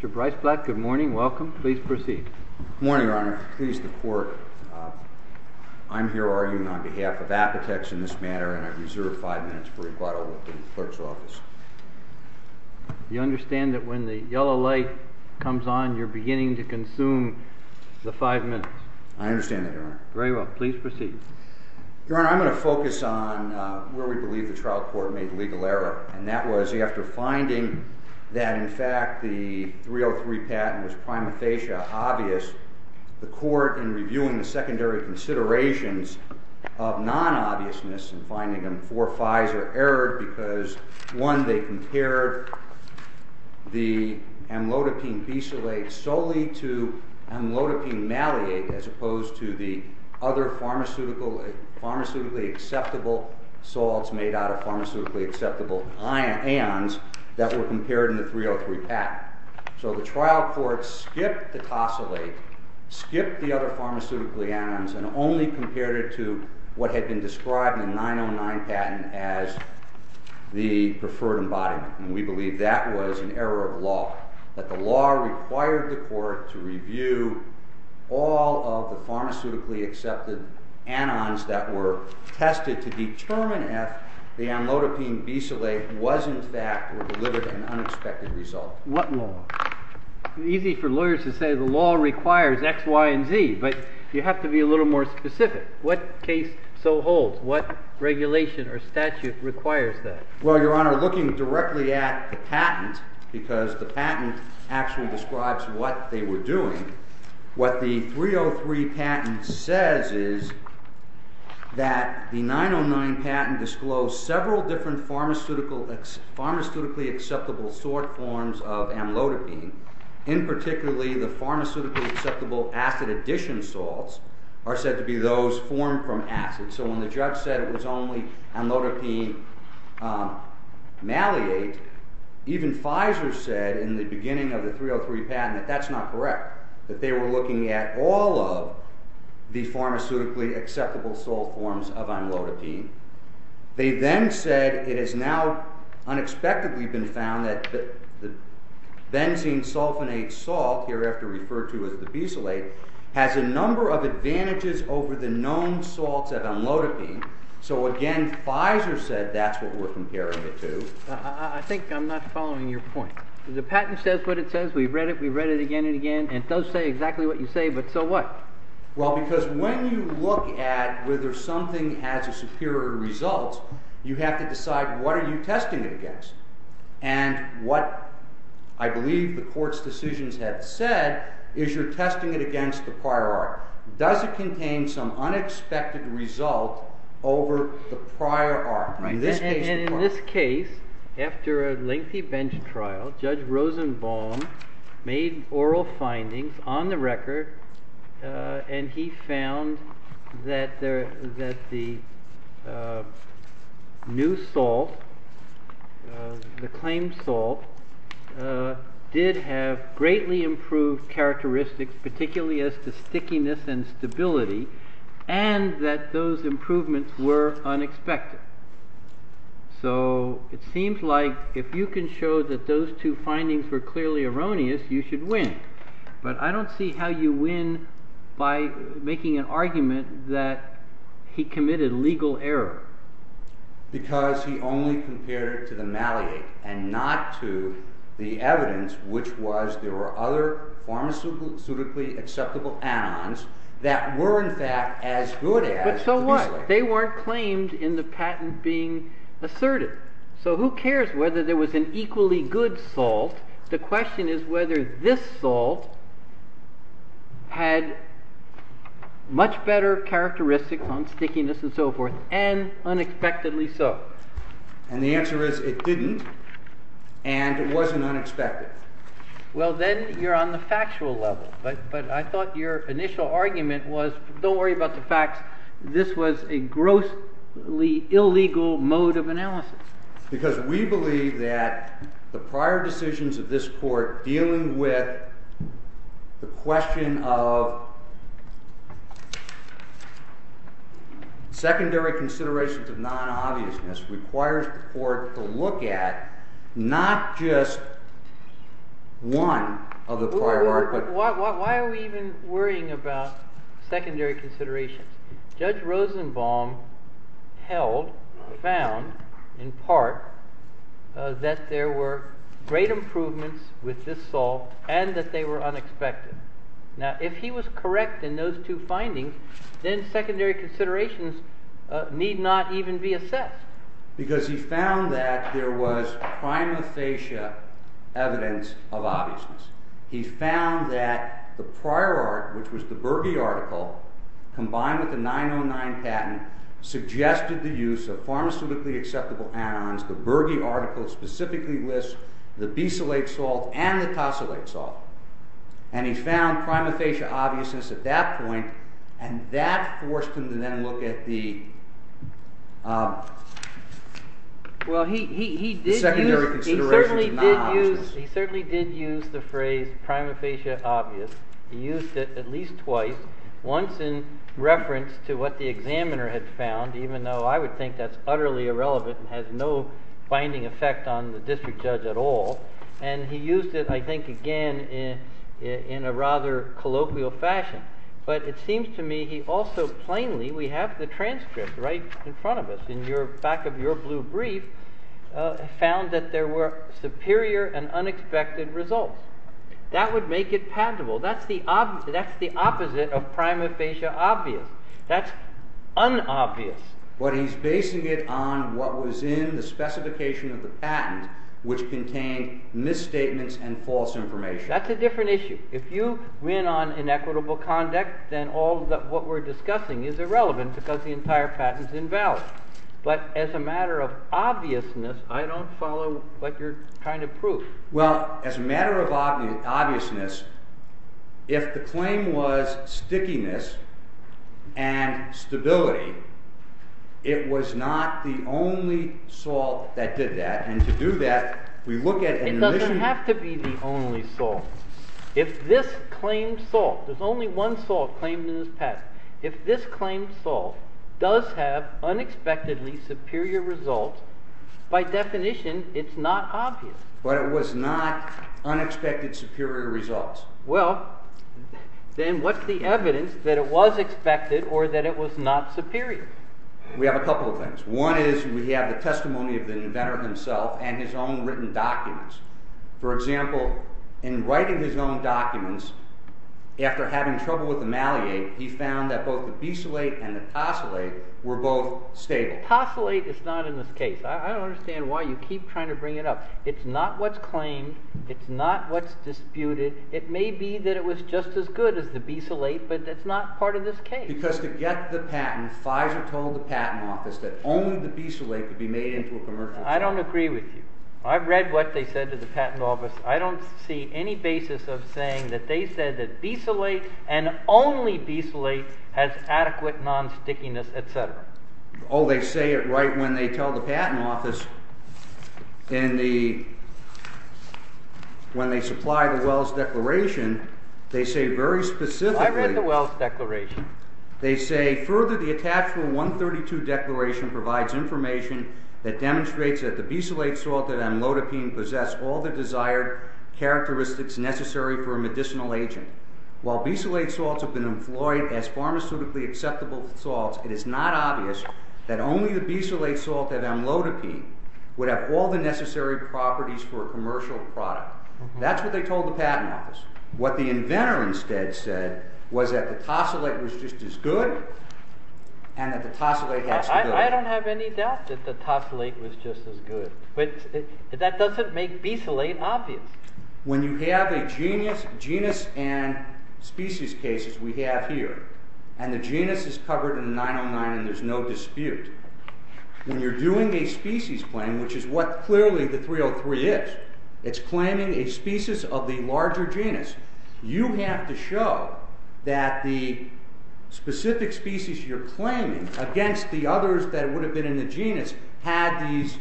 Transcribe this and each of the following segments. Mr. Brice Black, good morning. Welcome. Please proceed. Good morning, Your Honor. Please report. I'm here arguing on behalf of Apotex in this matter, and I reserve five minutes for rebuttal with the clerk's office. You understand that when the yellow light comes on, you're beginning to consume the five minutes? I understand that, Your Honor. Very well. Please proceed. Your Honor, I'm going to focus on where we believe the trial court made the legal error, and that was after finding that, in fact, the 303 patent was prima facie obvious, the court, in reviewing the secondary considerations of non-obviousness and finding them four fives or errors, because, one, they compared the amlodipine bisalate solely to amlodipine maliate, as opposed to the other pharmaceutically acceptable salts made out of pharmaceutically acceptable ions that were compared in the 303 patent. So the trial court skipped the tosylate, skipped the other pharmaceutically anions, and only compared it to what had been described in the 909 patent as the preferred embodiment, and we believe that was an error of law, that the law required the court to review all of the pharmaceutically accepted anions that were tested to determine if the amlodipine bisalate was, in fact, or delivered an unexpected result. What law? It's easy for lawyers to say the law requires x, y, and z, but you have to be a little more specific. What case so holds? What regulation or statute requires that? Well, Your Honor, looking directly at the patent, because the patent actually describes what they were doing, what the 303 patent says is that the 909 patent disclosed several different pharmaceutically acceptable sort forms of amlodipine, and particularly the pharmaceutically acceptable acid addition salts are said to be those formed from acid. So when the judge said it was only amlodipine malate, even Pfizer said in the beginning of the 303 patent that that's not correct, that they were looking at all of the pharmaceutically acceptable salt forms of amlodipine. They then said it has now unexpectedly been found that the benzene sulfonate salt, hereafter referred to as the bisalate, has a number of advantages over the known salts of amlodipine. So again, Pfizer said that's what we're comparing it to. I think I'm not following your point. The patent says what it says. We've read it. We've read it again and again. And it does say exactly what you say, but so what? Well, because when you look at whether something has a superior result, you have to decide what are you testing it against? And what I believe the court's decisions have said is you're testing it against the prior art. Does it contain some unexpected result over the prior art? And in this case, after a lengthy bench trial, Judge Rosenbaum made oral findings on the record, and he found that the new salt, the claimed salt, did have greatly improved characteristics, particularly as to stickiness and stability, and that those improvements were unexpected. So it seems like if you can show that those two findings were clearly erroneous, you should win. But I don't see how you win by making an argument that he committed legal error. Because he only compared it to the malleate and not to the evidence, which was there were other pharmaceutically acceptable anions that were, in fact, as good as the miscellaneous. But so what? They weren't claimed in the patent being asserted. So who cares whether there was an equally good salt? The question is whether this salt had much better characteristics on stickiness and so forth, and unexpectedly so. And the answer is it didn't, and it wasn't unexpected. Well, then you're on the factual level. But I thought your initial argument was don't worry about the facts. This was a grossly illegal mode of analysis. Because we believe that the prior decisions of this court dealing with the question of secondary considerations of non-obviousness requires the court to look at not just one of the prior art, but Why are we even worrying about secondary considerations? Judge Rosenbaum held, found, in part, that there were great improvements with this salt and that they were unexpected. Now, if he was correct in those two findings, then secondary considerations need not even be assessed. Because he found that there was prima facie evidence of obviousness. He found that the prior art, which was the Bergey article, combined with the 909 patent, suggested the use of pharmaceutically acceptable anions. The Bergey article specifically lists the bisalate salt and the tosylate salt. And he found prima facie obviousness at that point, and that forced him to then look at the secondary considerations of non-obviousness. He certainly did use the phrase prima facie obvious. He used it at least twice. Once in reference to what the examiner had found, even though I would think that's utterly irrelevant and has no binding effect on the district judge at all. And he used it, I think, again in a rather colloquial fashion. But it seems to me he also plainly, we have the transcript right in front of us in the back of your blue brief, found that there were superior and unexpected results. That would make it patentable. That's the opposite of prima facie obvious. That's unobvious. But he's basing it on what was in the specification of the patent, which contained misstatements and false information. That's a different issue. If you win on inequitable conduct, then what we're discussing is irrelevant, because the entire patent's invalid. But as a matter of obviousness, I don't follow what you're trying to prove. Well, as a matter of obviousness, if the claim was stickiness and stability, it was not the only salt that did that. And to do that, we look at an original- It doesn't have to be the only salt. If this claim salt, there's only one salt claimed in this patent, if this claim salt does have unexpectedly superior results, by definition, it's not obvious. But it was not unexpected superior results. Well, then what's the evidence that it was expected or that it was not superior? We have a couple of things. One is we have the testimony of the inventor himself and his own written documents. For example, in writing his own documents, after having trouble with the Maliate, he found that both the Bisolate and the Tosolate were both stable. The Tosolate is not in this case. I don't understand why you keep trying to bring it up. It's not what's claimed. It's not what's disputed. It may be that it was just as good as the Bisolate, but that's not part of this case. Because to get the patent, Pfizer told the patent office that only the Bisolate could be made into a commercial salt. I don't agree with you. I've read what they said to the patent office. I don't see any basis of saying that they said that Bisolate and only Bisolate has adequate nonstickiness, et cetera. Oh, they say it right when they tell the patent office in the—when they supply the Wells Declaration, they say very specifically— I've read the Wells Declaration. They say, further, the attached Rule 132 declaration provides information that demonstrates that the Bisolate salt and amlodipine possess all the desired characteristics necessary for a medicinal agent. While Bisolate salts have been employed as pharmaceutically acceptable salts, it is not obvious that only the Bisolate salt and amlodipine would have all the necessary properties for a commercial product. That's what they told the patent office. What the inventor instead said was that the Tosolate was just as good and that the Tosolate has to go. I don't have any doubt that the Tosolate was just as good. But that doesn't make Bisolate obvious. When you have a genus and species case, as we have here, and the genus is covered in 909 and there's no dispute, when you're doing a species claim, which is what clearly the 303 is, it's claiming a species of the larger genus, you have to show that the specific species you're claiming against the others that would have been in the genus had these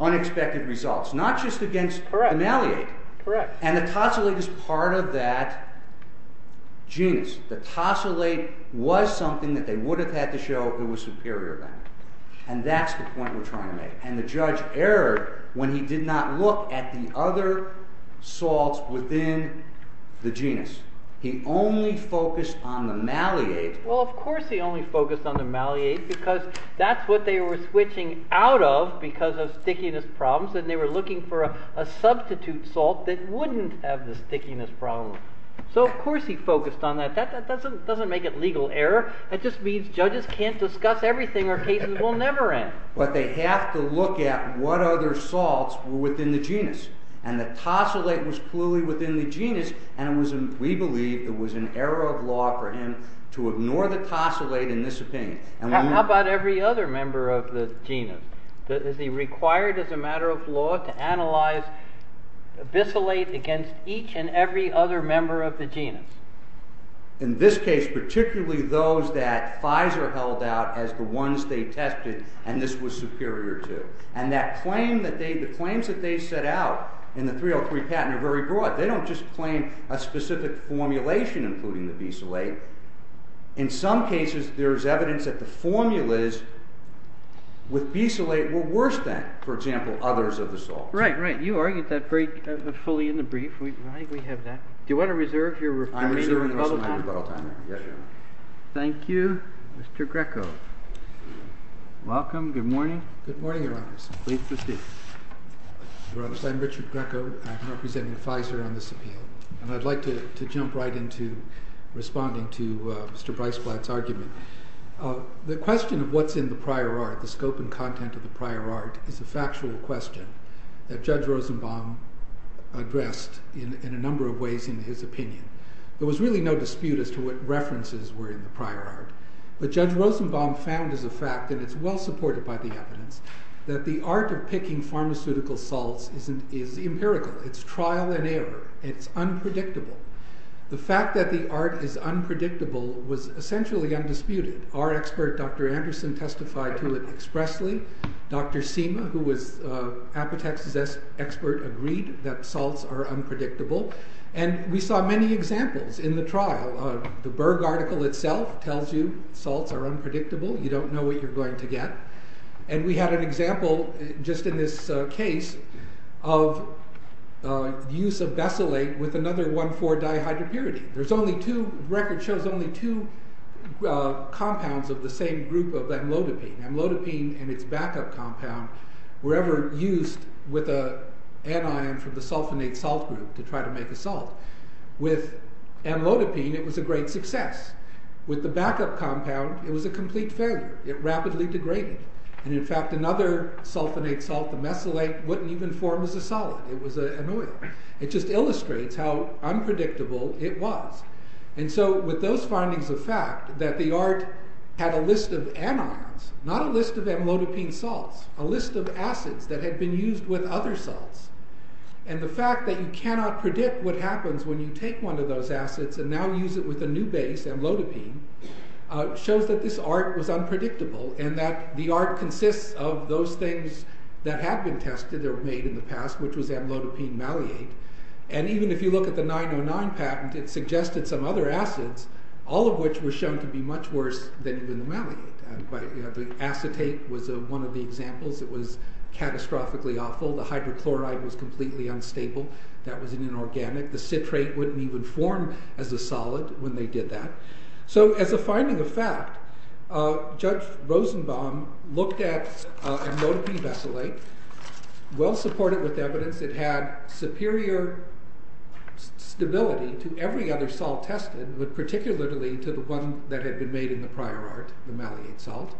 unexpected results. Not just against ameliate. And the Tosolate is part of that genus. The Tosolate was something that they would have had to show it was superior to that. And that's the point we're trying to make. And the judge erred when he did not look at the other salts within the genus. He only focused on the ameliate. Well, of course he only focused on the ameliate because that's what they were switching out of because of stickiness problems. And they were looking for a substitute salt that wouldn't have the stickiness problem. So of course he focused on that. That doesn't make it legal error. That just means judges can't discuss everything or cases will never end. But they have to look at what other salts were within the genus. And the Tosolate was clearly within the genus and we believe it was an error of law for him to ignore the Tosolate in this opinion. How about every other member of the genus? Is he required as a matter of law to analyze Bisalate against each and every other member of the genus? In this case, particularly those that Pfizer held out as the ones they tested and this was superior to. And the claims that they set out in the 303 patent are very broad. They don't just claim a specific formulation including the Bisalate. In some cases, there is evidence that the formulas with Bisalate were worse than, for example, others of the salts. Right, right. You argued that very fully in the brief. We have that. Do you want to reserve your rebuttal time? Thank you, Mr. Greco. Welcome. Good morning. Good morning, Your Honor. Please proceed. Your Honor, I'm Richard Greco. I'm representing Pfizer on this appeal. And I'd like to jump right into responding to Mr. Breisblatt's argument. The question of what's in the prior art, the scope and content of the prior art, is a factual question that Judge Rosenbaum addressed in a number of ways in his opinion. There was really no dispute as to what references were in the prior art. But Judge Rosenbaum found as a fact, and it's well supported by the evidence, that the art of picking pharmaceutical salts is empirical. It's trial and error. It's unpredictable. The fact that the art is unpredictable was essentially undisputed. Our expert, Dr. Anderson, testified to it expressly. Dr. Seema, who was Apotex's expert, agreed that salts are unpredictable. And we saw many examples in the trial. The Berg article itself tells you salts are unpredictable. You don't know what you're going to get. And we had an example just in this case of use of Bacillate with another 1,4-dihydropyridine. There's only two, the record shows only two compounds of the same group of amlodipine. Amlodipine and its backup compound were ever used with an anion from the sulfonate salt group to try to make a salt. With amlodipine, it was a great success. With the backup compound, it was a complete failure. It rapidly degraded. And in fact, another sulfonate salt, the mesylate, wouldn't even form as a solid. It was an oil. It just illustrates how unpredictable it was. And so with those findings of fact, that the art had a list of anions, not a list of amlodipine salts, a list of acids that had been used with other salts. And the fact that you cannot predict what happens when you take one of those acids and now use it with a new base, amlodipine, shows that this art was unpredictable and that the art consists of those things that had been tested that were made in the past, which was amlodipine maliate. And even if you look at the 909 patent, it suggested some other acids, all of which were shown to be much worse than even the maliate. Acetate was one of the examples that was catastrophically awful. The hydrochloride was completely unstable. That was inorganic. The citrate wouldn't even form as a solid when they did that. So as a finding of fact, Judge Rosenbaum looked at amlodipine mesylate, well supported with evidence. It had superior stability to every other salt tested, but particularly to the one that had been made in the prior art, the maliate salt.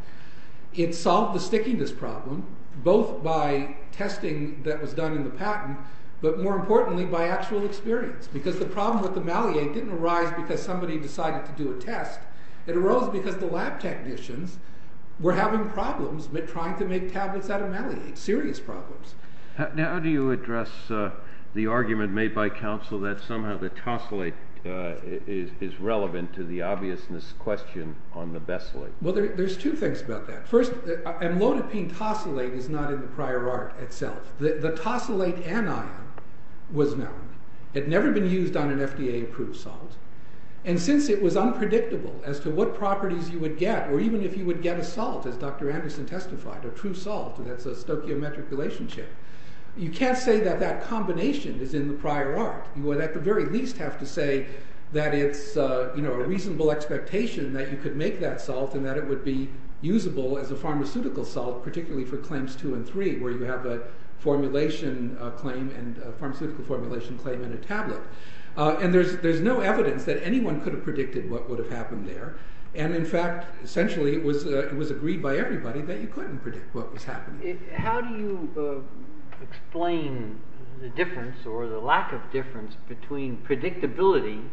It solved the stickiness problem, both by testing that was done in the patent, but more importantly by actual experience, because the problem with the maliate didn't arise because somebody decided to do a test. It arose because the lab technicians were having problems with trying to make tablets out of maliate, serious problems. Now how do you address the argument made by counsel that somehow the tosylate is relevant to the obviousness question on the mesylate? Well, there's two things about that. First, amlodipine tosylate is not in the prior art itself. The tosylate anion was known. It had never been used on an FDA approved salt. And since it was unpredictable as to what properties you would get, or even if you would get a salt, as Dr. Anderson testified, a true salt, and that's a stoichiometric relationship, you can't say that that combination is in the prior art. You would at the very least have to say that it's a reasonable expectation that you could make that salt and that it would be usable as a pharmaceutical salt, particularly for claims two and three where you have a formulation claim and a pharmaceutical formulation claim in a tablet. And there's no evidence that anyone could have predicted what would have happened there. And in fact, essentially it was agreed by everybody that you couldn't predict what was happening. How do you explain the difference or the lack of difference between predictability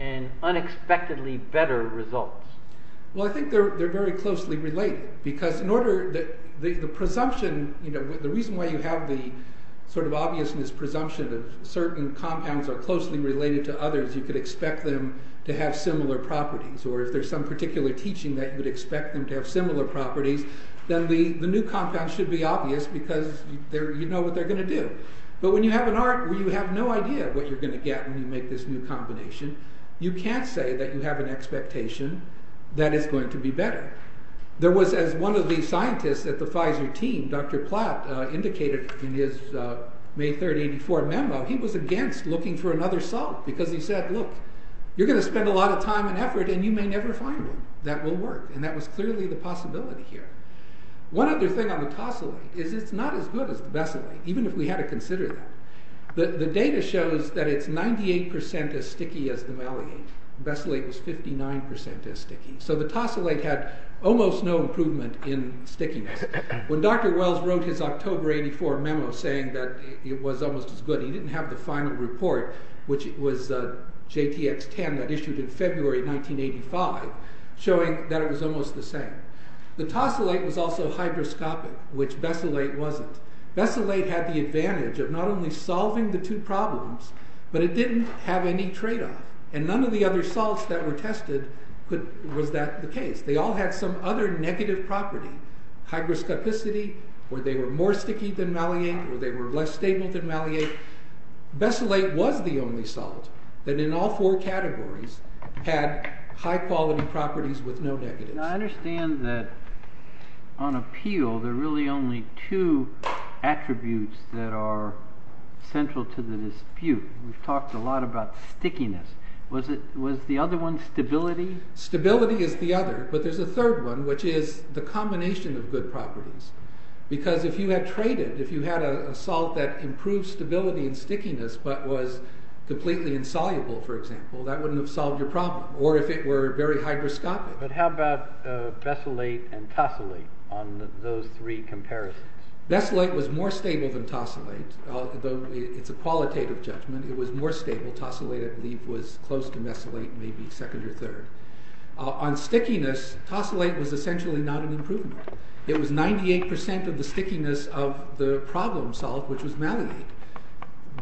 and unexpectedly better results? Well, I think they're very closely related. Because in order, the presumption, the reason why you have the sort of obviousness presumption that certain compounds are closely related to others, you could expect them to have similar properties. Or if there's some particular teaching that you would expect them to have similar properties, then the new compound should be obvious because you know what they're going to do. But when you have an art where you have no idea what you're going to get when you make this new combination, you can't say that you have an expectation that it's going to be better. There was, as one of the scientists at the Pfizer team, Dr. Platt, indicated in his May 3, 1984 memo, he was against looking for another salt because he said, look, you're going to spend a lot of time and effort and you may never find one that will work. And that was clearly the possibility here. Even if we had to consider that. The data shows that it's 98% as sticky as the malleate. Bacillate was 59% as sticky. So the tosylate had almost no improvement in stickiness. When Dr. Wells wrote his October 84 memo saying that it was almost as good, he didn't have the final report, which was JTX-10, that issued in February 1985, showing that it was almost the same. The tosylate was also hygroscopic, which bacillate wasn't. Bacillate had the advantage of not only solving the two problems, but it didn't have any tradeoff. And none of the other salts that were tested was that the case. They all had some other negative property. Hygroscopicity, or they were more sticky than malleate, or they were less stable than malleate. Bacillate was the only salt that in all four categories had high quality properties with no negatives. Now I understand that on a peel, there are really only two attributes that are central to the dispute. We've talked a lot about stickiness. Was the other one stability? Stability is the other, but there's a third one, which is the combination of good properties. Because if you had traded, if you had a salt that improved stability and stickiness, but was completely insoluble, for example, that wouldn't have solved your problem, or if it were very hygroscopic. But how about bacillate and tosylate on those three comparisons? Bacillate was more stable than tosylate, though it's a qualitative judgment. Tosylate, I believe, was close to bacillate, maybe second or third. On stickiness, tosylate was essentially not an improvement. It was 98% of the stickiness of the problem solved, which was malleate.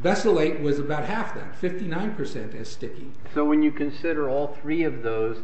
Bacillate was about half that, 59% as sticky. So when you consider all three of those,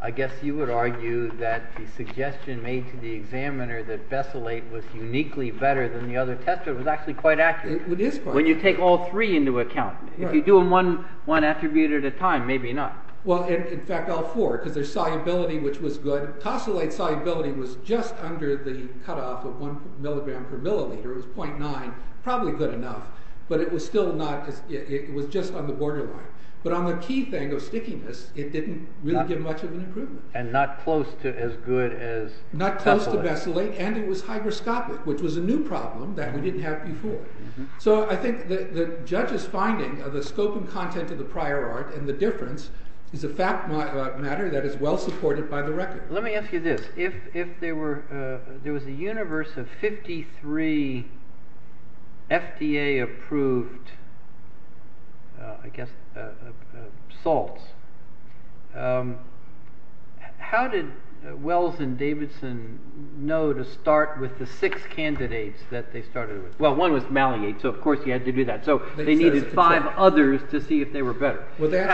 I guess you would argue that the suggestion made to the examiner that bacillate was uniquely better than the other test was actually quite accurate. It is quite accurate. When you take all three into account. If you do them one attribute at a time, maybe not. Well, in fact, all four, because there's solubility, which was good. Tosylate's solubility was just under the cutoff of one milligram per milliliter. It was 0.9, probably good enough. But it was still not, it was just on the borderline. But on the key thing of stickiness, it didn't really give much of an improvement. And not close to as good as bacillate. Not close to bacillate, and it was hygroscopic, which was a new problem that we didn't have before. So I think the judge's finding of the scope and content of the prior art and the difference is a fact matter that is well supported by the record. Let me ask you this. If there was a universe of 53 FDA-approved salts, how did Wells and Davidson know to start with the six candidates that they started with? Well, one was maliate, so of course you had to do that. So they needed five others to see if they were better.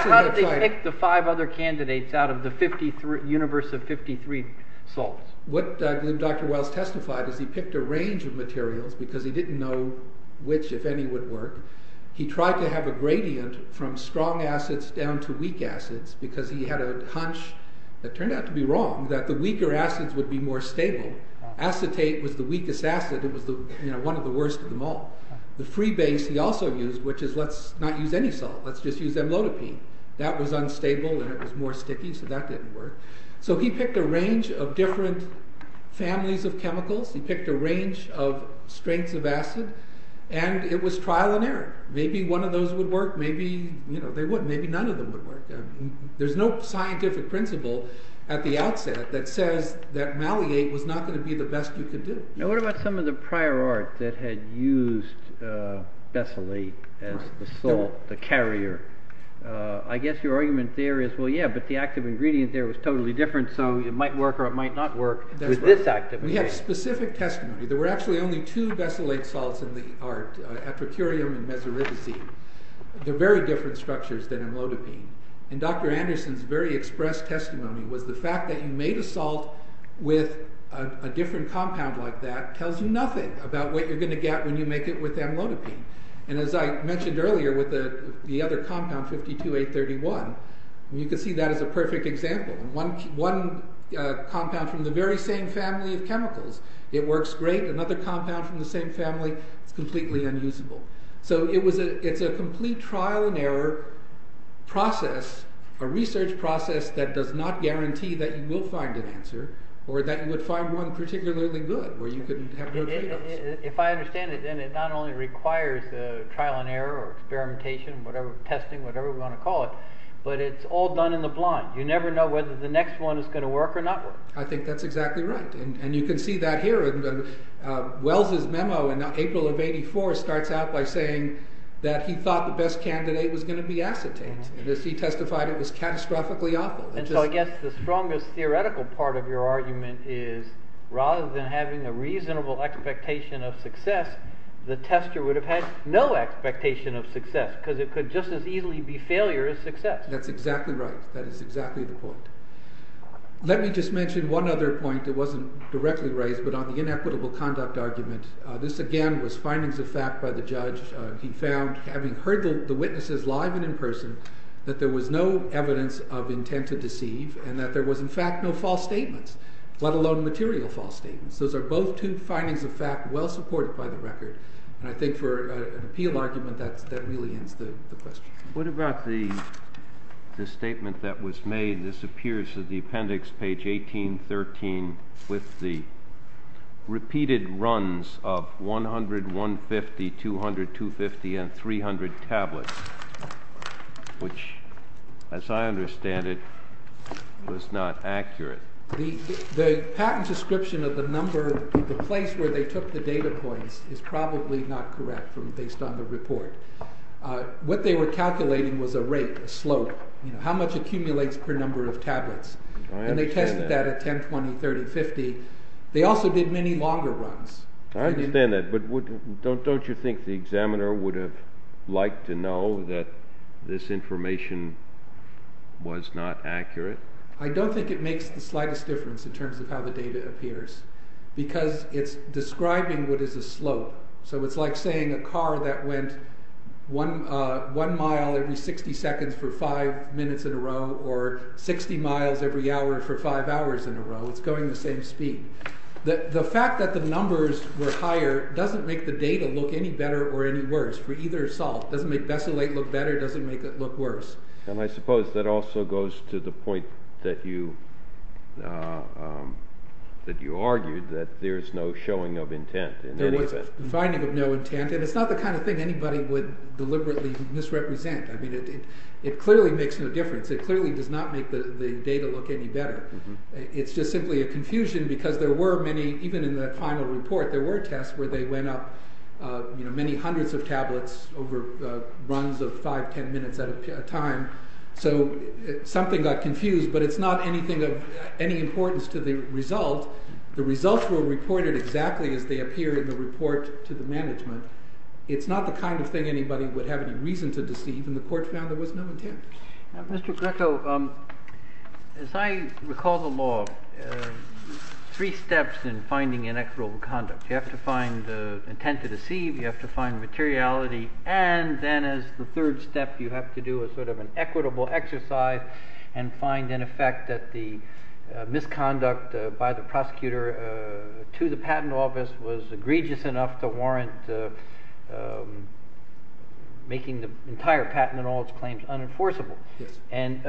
How did they pick the five other candidates out of the universe of 53 salts? What Dr. Wells testified is he picked a range of materials because he didn't know which, if any, would work. He tried to have a gradient from strong acids down to weak acids because he had a hunch, it turned out to be wrong, that the weaker acids would be more stable. Acetate was the weakest acid. It was one of the worst of them all. The free base he also used, which is let's not use any salt. Let's just use amlodipine. That was unstable and it was more sticky, so that didn't work. So he picked a range of different families of chemicals. He picked a range of strengths of acid and it was trial and error. Maybe one of those would work. Maybe they wouldn't. Maybe none of them would work. There's no scientific principle at the outset that says that maliate was not going to be the best you could do. What about some of the prior art that had used Bessalate as the salt, the carrier? I guess your argument there is, well, yeah, but the active ingredient there was totally different, so it might work or it might not work with this active ingredient. We have specific testimony. There were actually only two Bessalate salts in the art, apricurium and mesoripizine. They're very different structures than amlodipine. Dr. Anderson's very express testimony was the fact that you made a salt with a different compound like that tells you nothing about what you're going to get when you make it with amlodipine. As I mentioned earlier with the other compound, 52A31, you can see that as a perfect example. One compound from the very same family of chemicals, it works great. Another compound from the same family, it's completely unusable. So it's a complete trial and error process, a research process that does not guarantee that you will find an answer or that you would find one particularly good where you could have good results. If I understand it, then it not only requires trial and error or experimentation, testing, whatever we want to call it, but it's all done in the blind. You never know whether the next one is going to work or not work. I think that's exactly right, and you can see that here. Wells' memo in April of 1984 starts out by saying that he thought the best candidate was going to be acetate. As he testified, it was catastrophically awful. So I guess the strongest theoretical part of your argument is rather than having a reasonable expectation of success, the tester would have had no expectation of success because it could just as easily be failure as success. That's exactly right. That is exactly the point. Let me just mention one other point that wasn't directly raised but on the inequitable conduct argument. This again was findings of fact by the judge. He found, having heard the witnesses live and in person, that there was no evidence of intent to deceive and that there was in fact no false statements, let alone material false statements. Those are both two findings of fact well supported by the record. I think for an appeal argument, that really ends the question. What about the statement that was made? This appears to the appendix, page 1813, with the repeated runs of 100, 150, 200, 250, and 300 tablets, which, as I understand it, was not accurate. The patent description of the number, the place where they took the data points, is probably not correct based on the report. What they were calculating was a rate, a slope, how much accumulates per number of tablets. And they tested that at 10, 20, 30, 50. They also did many longer runs. I understand that, but don't you think the examiner would have liked to know that this information was not accurate? I don't think it makes the slightest difference in terms of how the data appears because it's describing what is a slope. So it's like saying a car that went one mile every 60 seconds for five minutes in a row or 60 miles every hour for five hours in a row. It's going the same speed. The fact that the numbers were higher doesn't make the data look any better or any worse for either salt. It doesn't make Bessalate look better. It doesn't make it look worse. And I suppose that also goes to the point that you argued that there's no showing of intent. There was a finding of no intent. And it's not the kind of thing anybody would deliberately misrepresent. I mean, it clearly makes no difference. It clearly does not make the data look any better. It's just simply a confusion because there were many, even in the final report, there were tests where they went up many hundreds of tablets over runs of five, ten minutes at a time. So something got confused, but it's not of any importance to the result. The results were reported exactly as they appear in the report to the management. It's not the kind of thing anybody would have any reason to deceive, and the court found there was no intent. Mr. Greco, as I recall the law, three steps in finding inequitable conduct. You have to find intent to deceive. You have to find materiality. And then as the third step, you have to do a sort of an equitable exercise and find, in effect, that the misconduct by the prosecutor to the patent office was egregious enough to warrant making the entire patent and all its claims unenforceable. And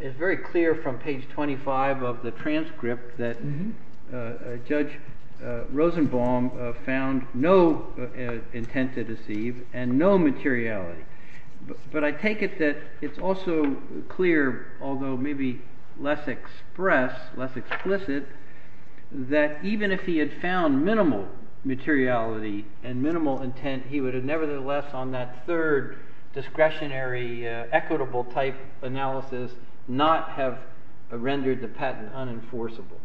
it's very clear from page 25 of the transcript that Judge Rosenbaum found no intent to deceive and no materiality. But I take it that it's also clear, although maybe less expressed, less explicit, that even if he had found minimal materiality and minimal intent, he would have nevertheless on that third discretionary equitable type analysis not have rendered the patent unenforceable.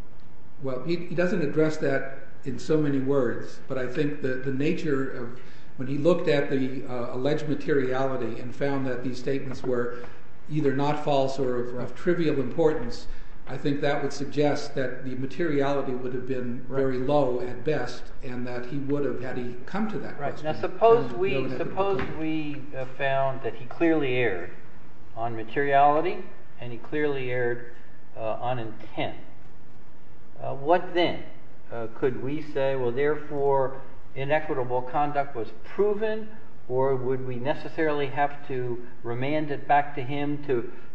Well, he doesn't address that in so many words, but I think the nature of when he looked at the alleged materiality and found that these statements were either not false or of trivial importance, I think that would suggest that the materiality would have been very low at best and that he would have had he come to that question. Right. Now, suppose we have found that he clearly erred on materiality and he clearly erred on intent. What then could we say, well, therefore, inequitable conduct was proven or would we necessarily have to remand it back to him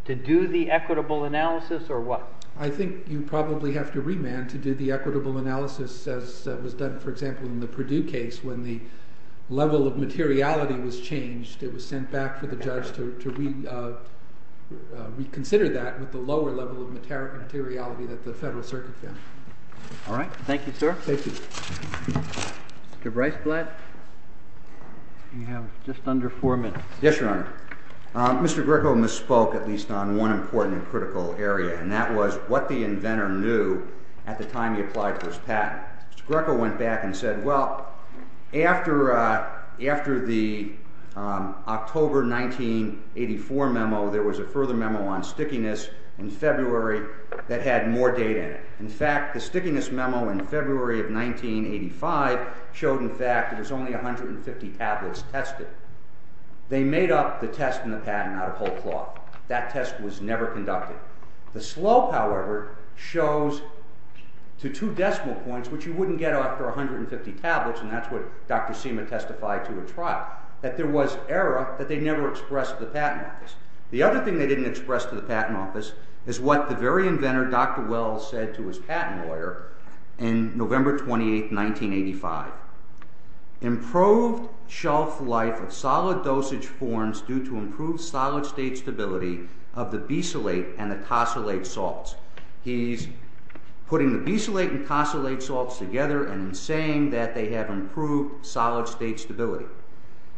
to do the equitable analysis or what? I think you probably have to remand to do the equitable analysis as was done, for example, in the Purdue case when the level of materiality was changed. It was sent back for the judge to reconsider that with the lower level of materiality that the Federal Circuit found. All right. Thank you, sir. Thank you. Mr. Briceblatt, you have just under four minutes. Yes, Your Honor. Mr. Greco misspoke at least on one important and critical area and that was what the inventor knew at the time he applied for his patent. Mr. Greco went back and said, well, after the October 1984 memo, there was a further memo on stickiness in February that had more data in it. In fact, the stickiness memo in February of 1985 showed, in fact, there was only 150 tablets tested. They made up the test and the patent out of whole cloth. That test was never conducted. The slope, however, shows to two decimal points, which you wouldn't get after 150 tablets, and that's what Dr. Seema testified to at trial, that there was error that they never expressed to the Patent Office. The other thing they didn't express to the Patent Office is what the very inventor, Dr. Wells, said to his patent lawyer in November 28, 1985. Improved shelf life of solid dosage forms due to improved solid-state stability of the besolate and the tosylate salts. He's putting the besolate and tosylate salts together and saying that they have improved solid-state stability.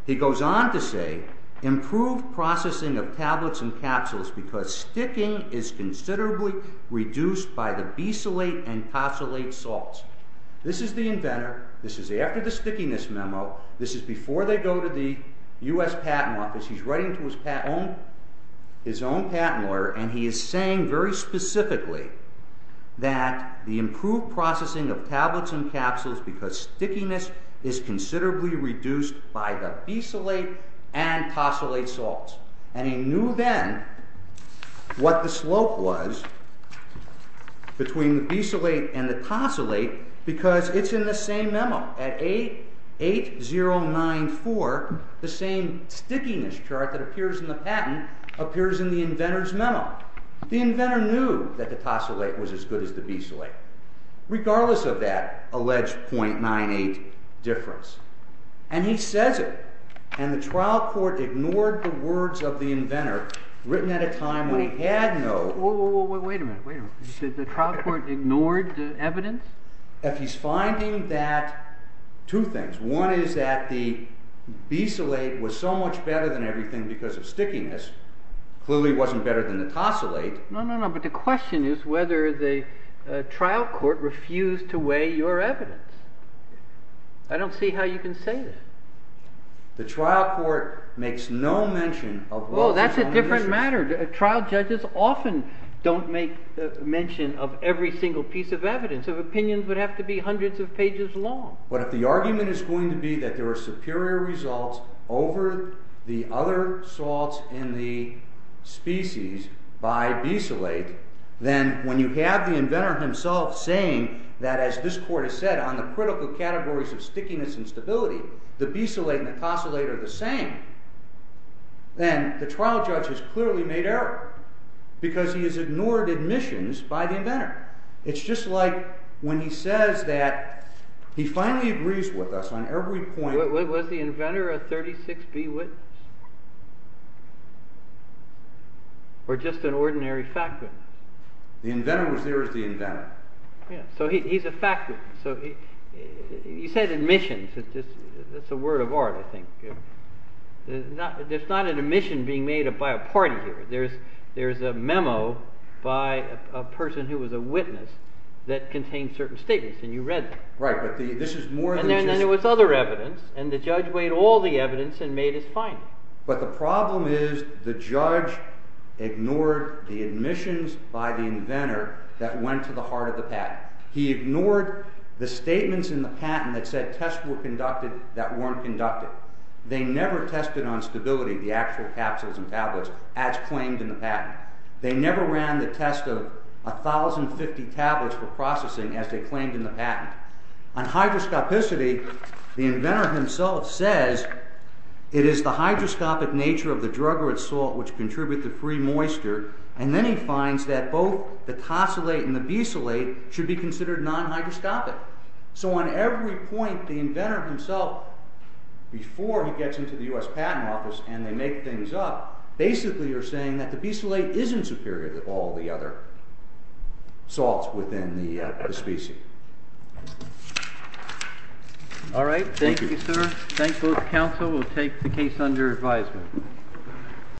He goes on to say, improved processing of tablets and capsules because sticking is considerably reduced by the besolate and tosylate salts. This is the inventor. This is after the stickiness memo. This is before they go to the U.S. Patent Office. He's writing to his own patent lawyer, and he is saying very specifically that the improved processing of tablets and capsules because stickiness is considerably reduced by the besolate and tosylate salts. And he knew then what the slope was between the besolate and the tosylate because it's in the same memo at 8094. The same stickiness chart that appears in the patent appears in the inventor's memo. The inventor knew that the tosylate was as good as the besolate, regardless of that alleged .98 difference. And he says it, and the trial court ignored the words of the inventor written at a time when he had no... Wait a minute. Wait a minute. Did the trial court ignore the evidence? He's finding that two things. One is that the besolate was so much better than everything because of stickiness. Clearly it wasn't better than the tosylate. No, no, no. But the question is whether the trial court refused to weigh your evidence. I don't see how you can say that. The trial court makes no mention of... Oh, that's a different matter. Trial judges often don't make mention of every single piece of evidence. Opinions would have to be hundreds of pages long. But if the argument is going to be that there are superior results over the other salts in the species by besolate, then when you have the inventor himself saying that, as this court has said, on the critical categories of stickiness and stability, the besolate and the tosylate are the same, then the trial judge has clearly made error because he has ignored admissions by the inventor. It's just like when he says that he finally agrees with us on every point... Was the inventor a 36B witness? Or just an ordinary fact witness? The inventor was there as the inventor. So he's a fact witness. You said admissions. That's a word of art, I think. There's not an admission being made by a party here. There's a memo by a person who was a witness that contained certain statements, and you read them. And then there was other evidence, and the judge weighed all the evidence and made his finding. But the problem is the judge ignored the admissions by the inventor that went to the heart of the patent. He ignored the statements in the patent that said tests were conducted that weren't conducted. They never tested on stability, the actual capsules and tablets, as claimed in the patent. They never ran the test of 1,050 tablets for processing as they claimed in the patent. On hydroscopicity, the inventor himself says it is the hydroscopic nature of the drug or its salt which contribute to free moisture, and then he finds that both the tosylate and the besolate should be considered non-hydroscopic. So on every point, the inventor himself, before he gets into the U.S. Patent Office and they make things up, basically they're saying that the besolate isn't superior to all the other salts within the species. All right, thank you, sir. Thank both the counsel. We'll take the case under advisement.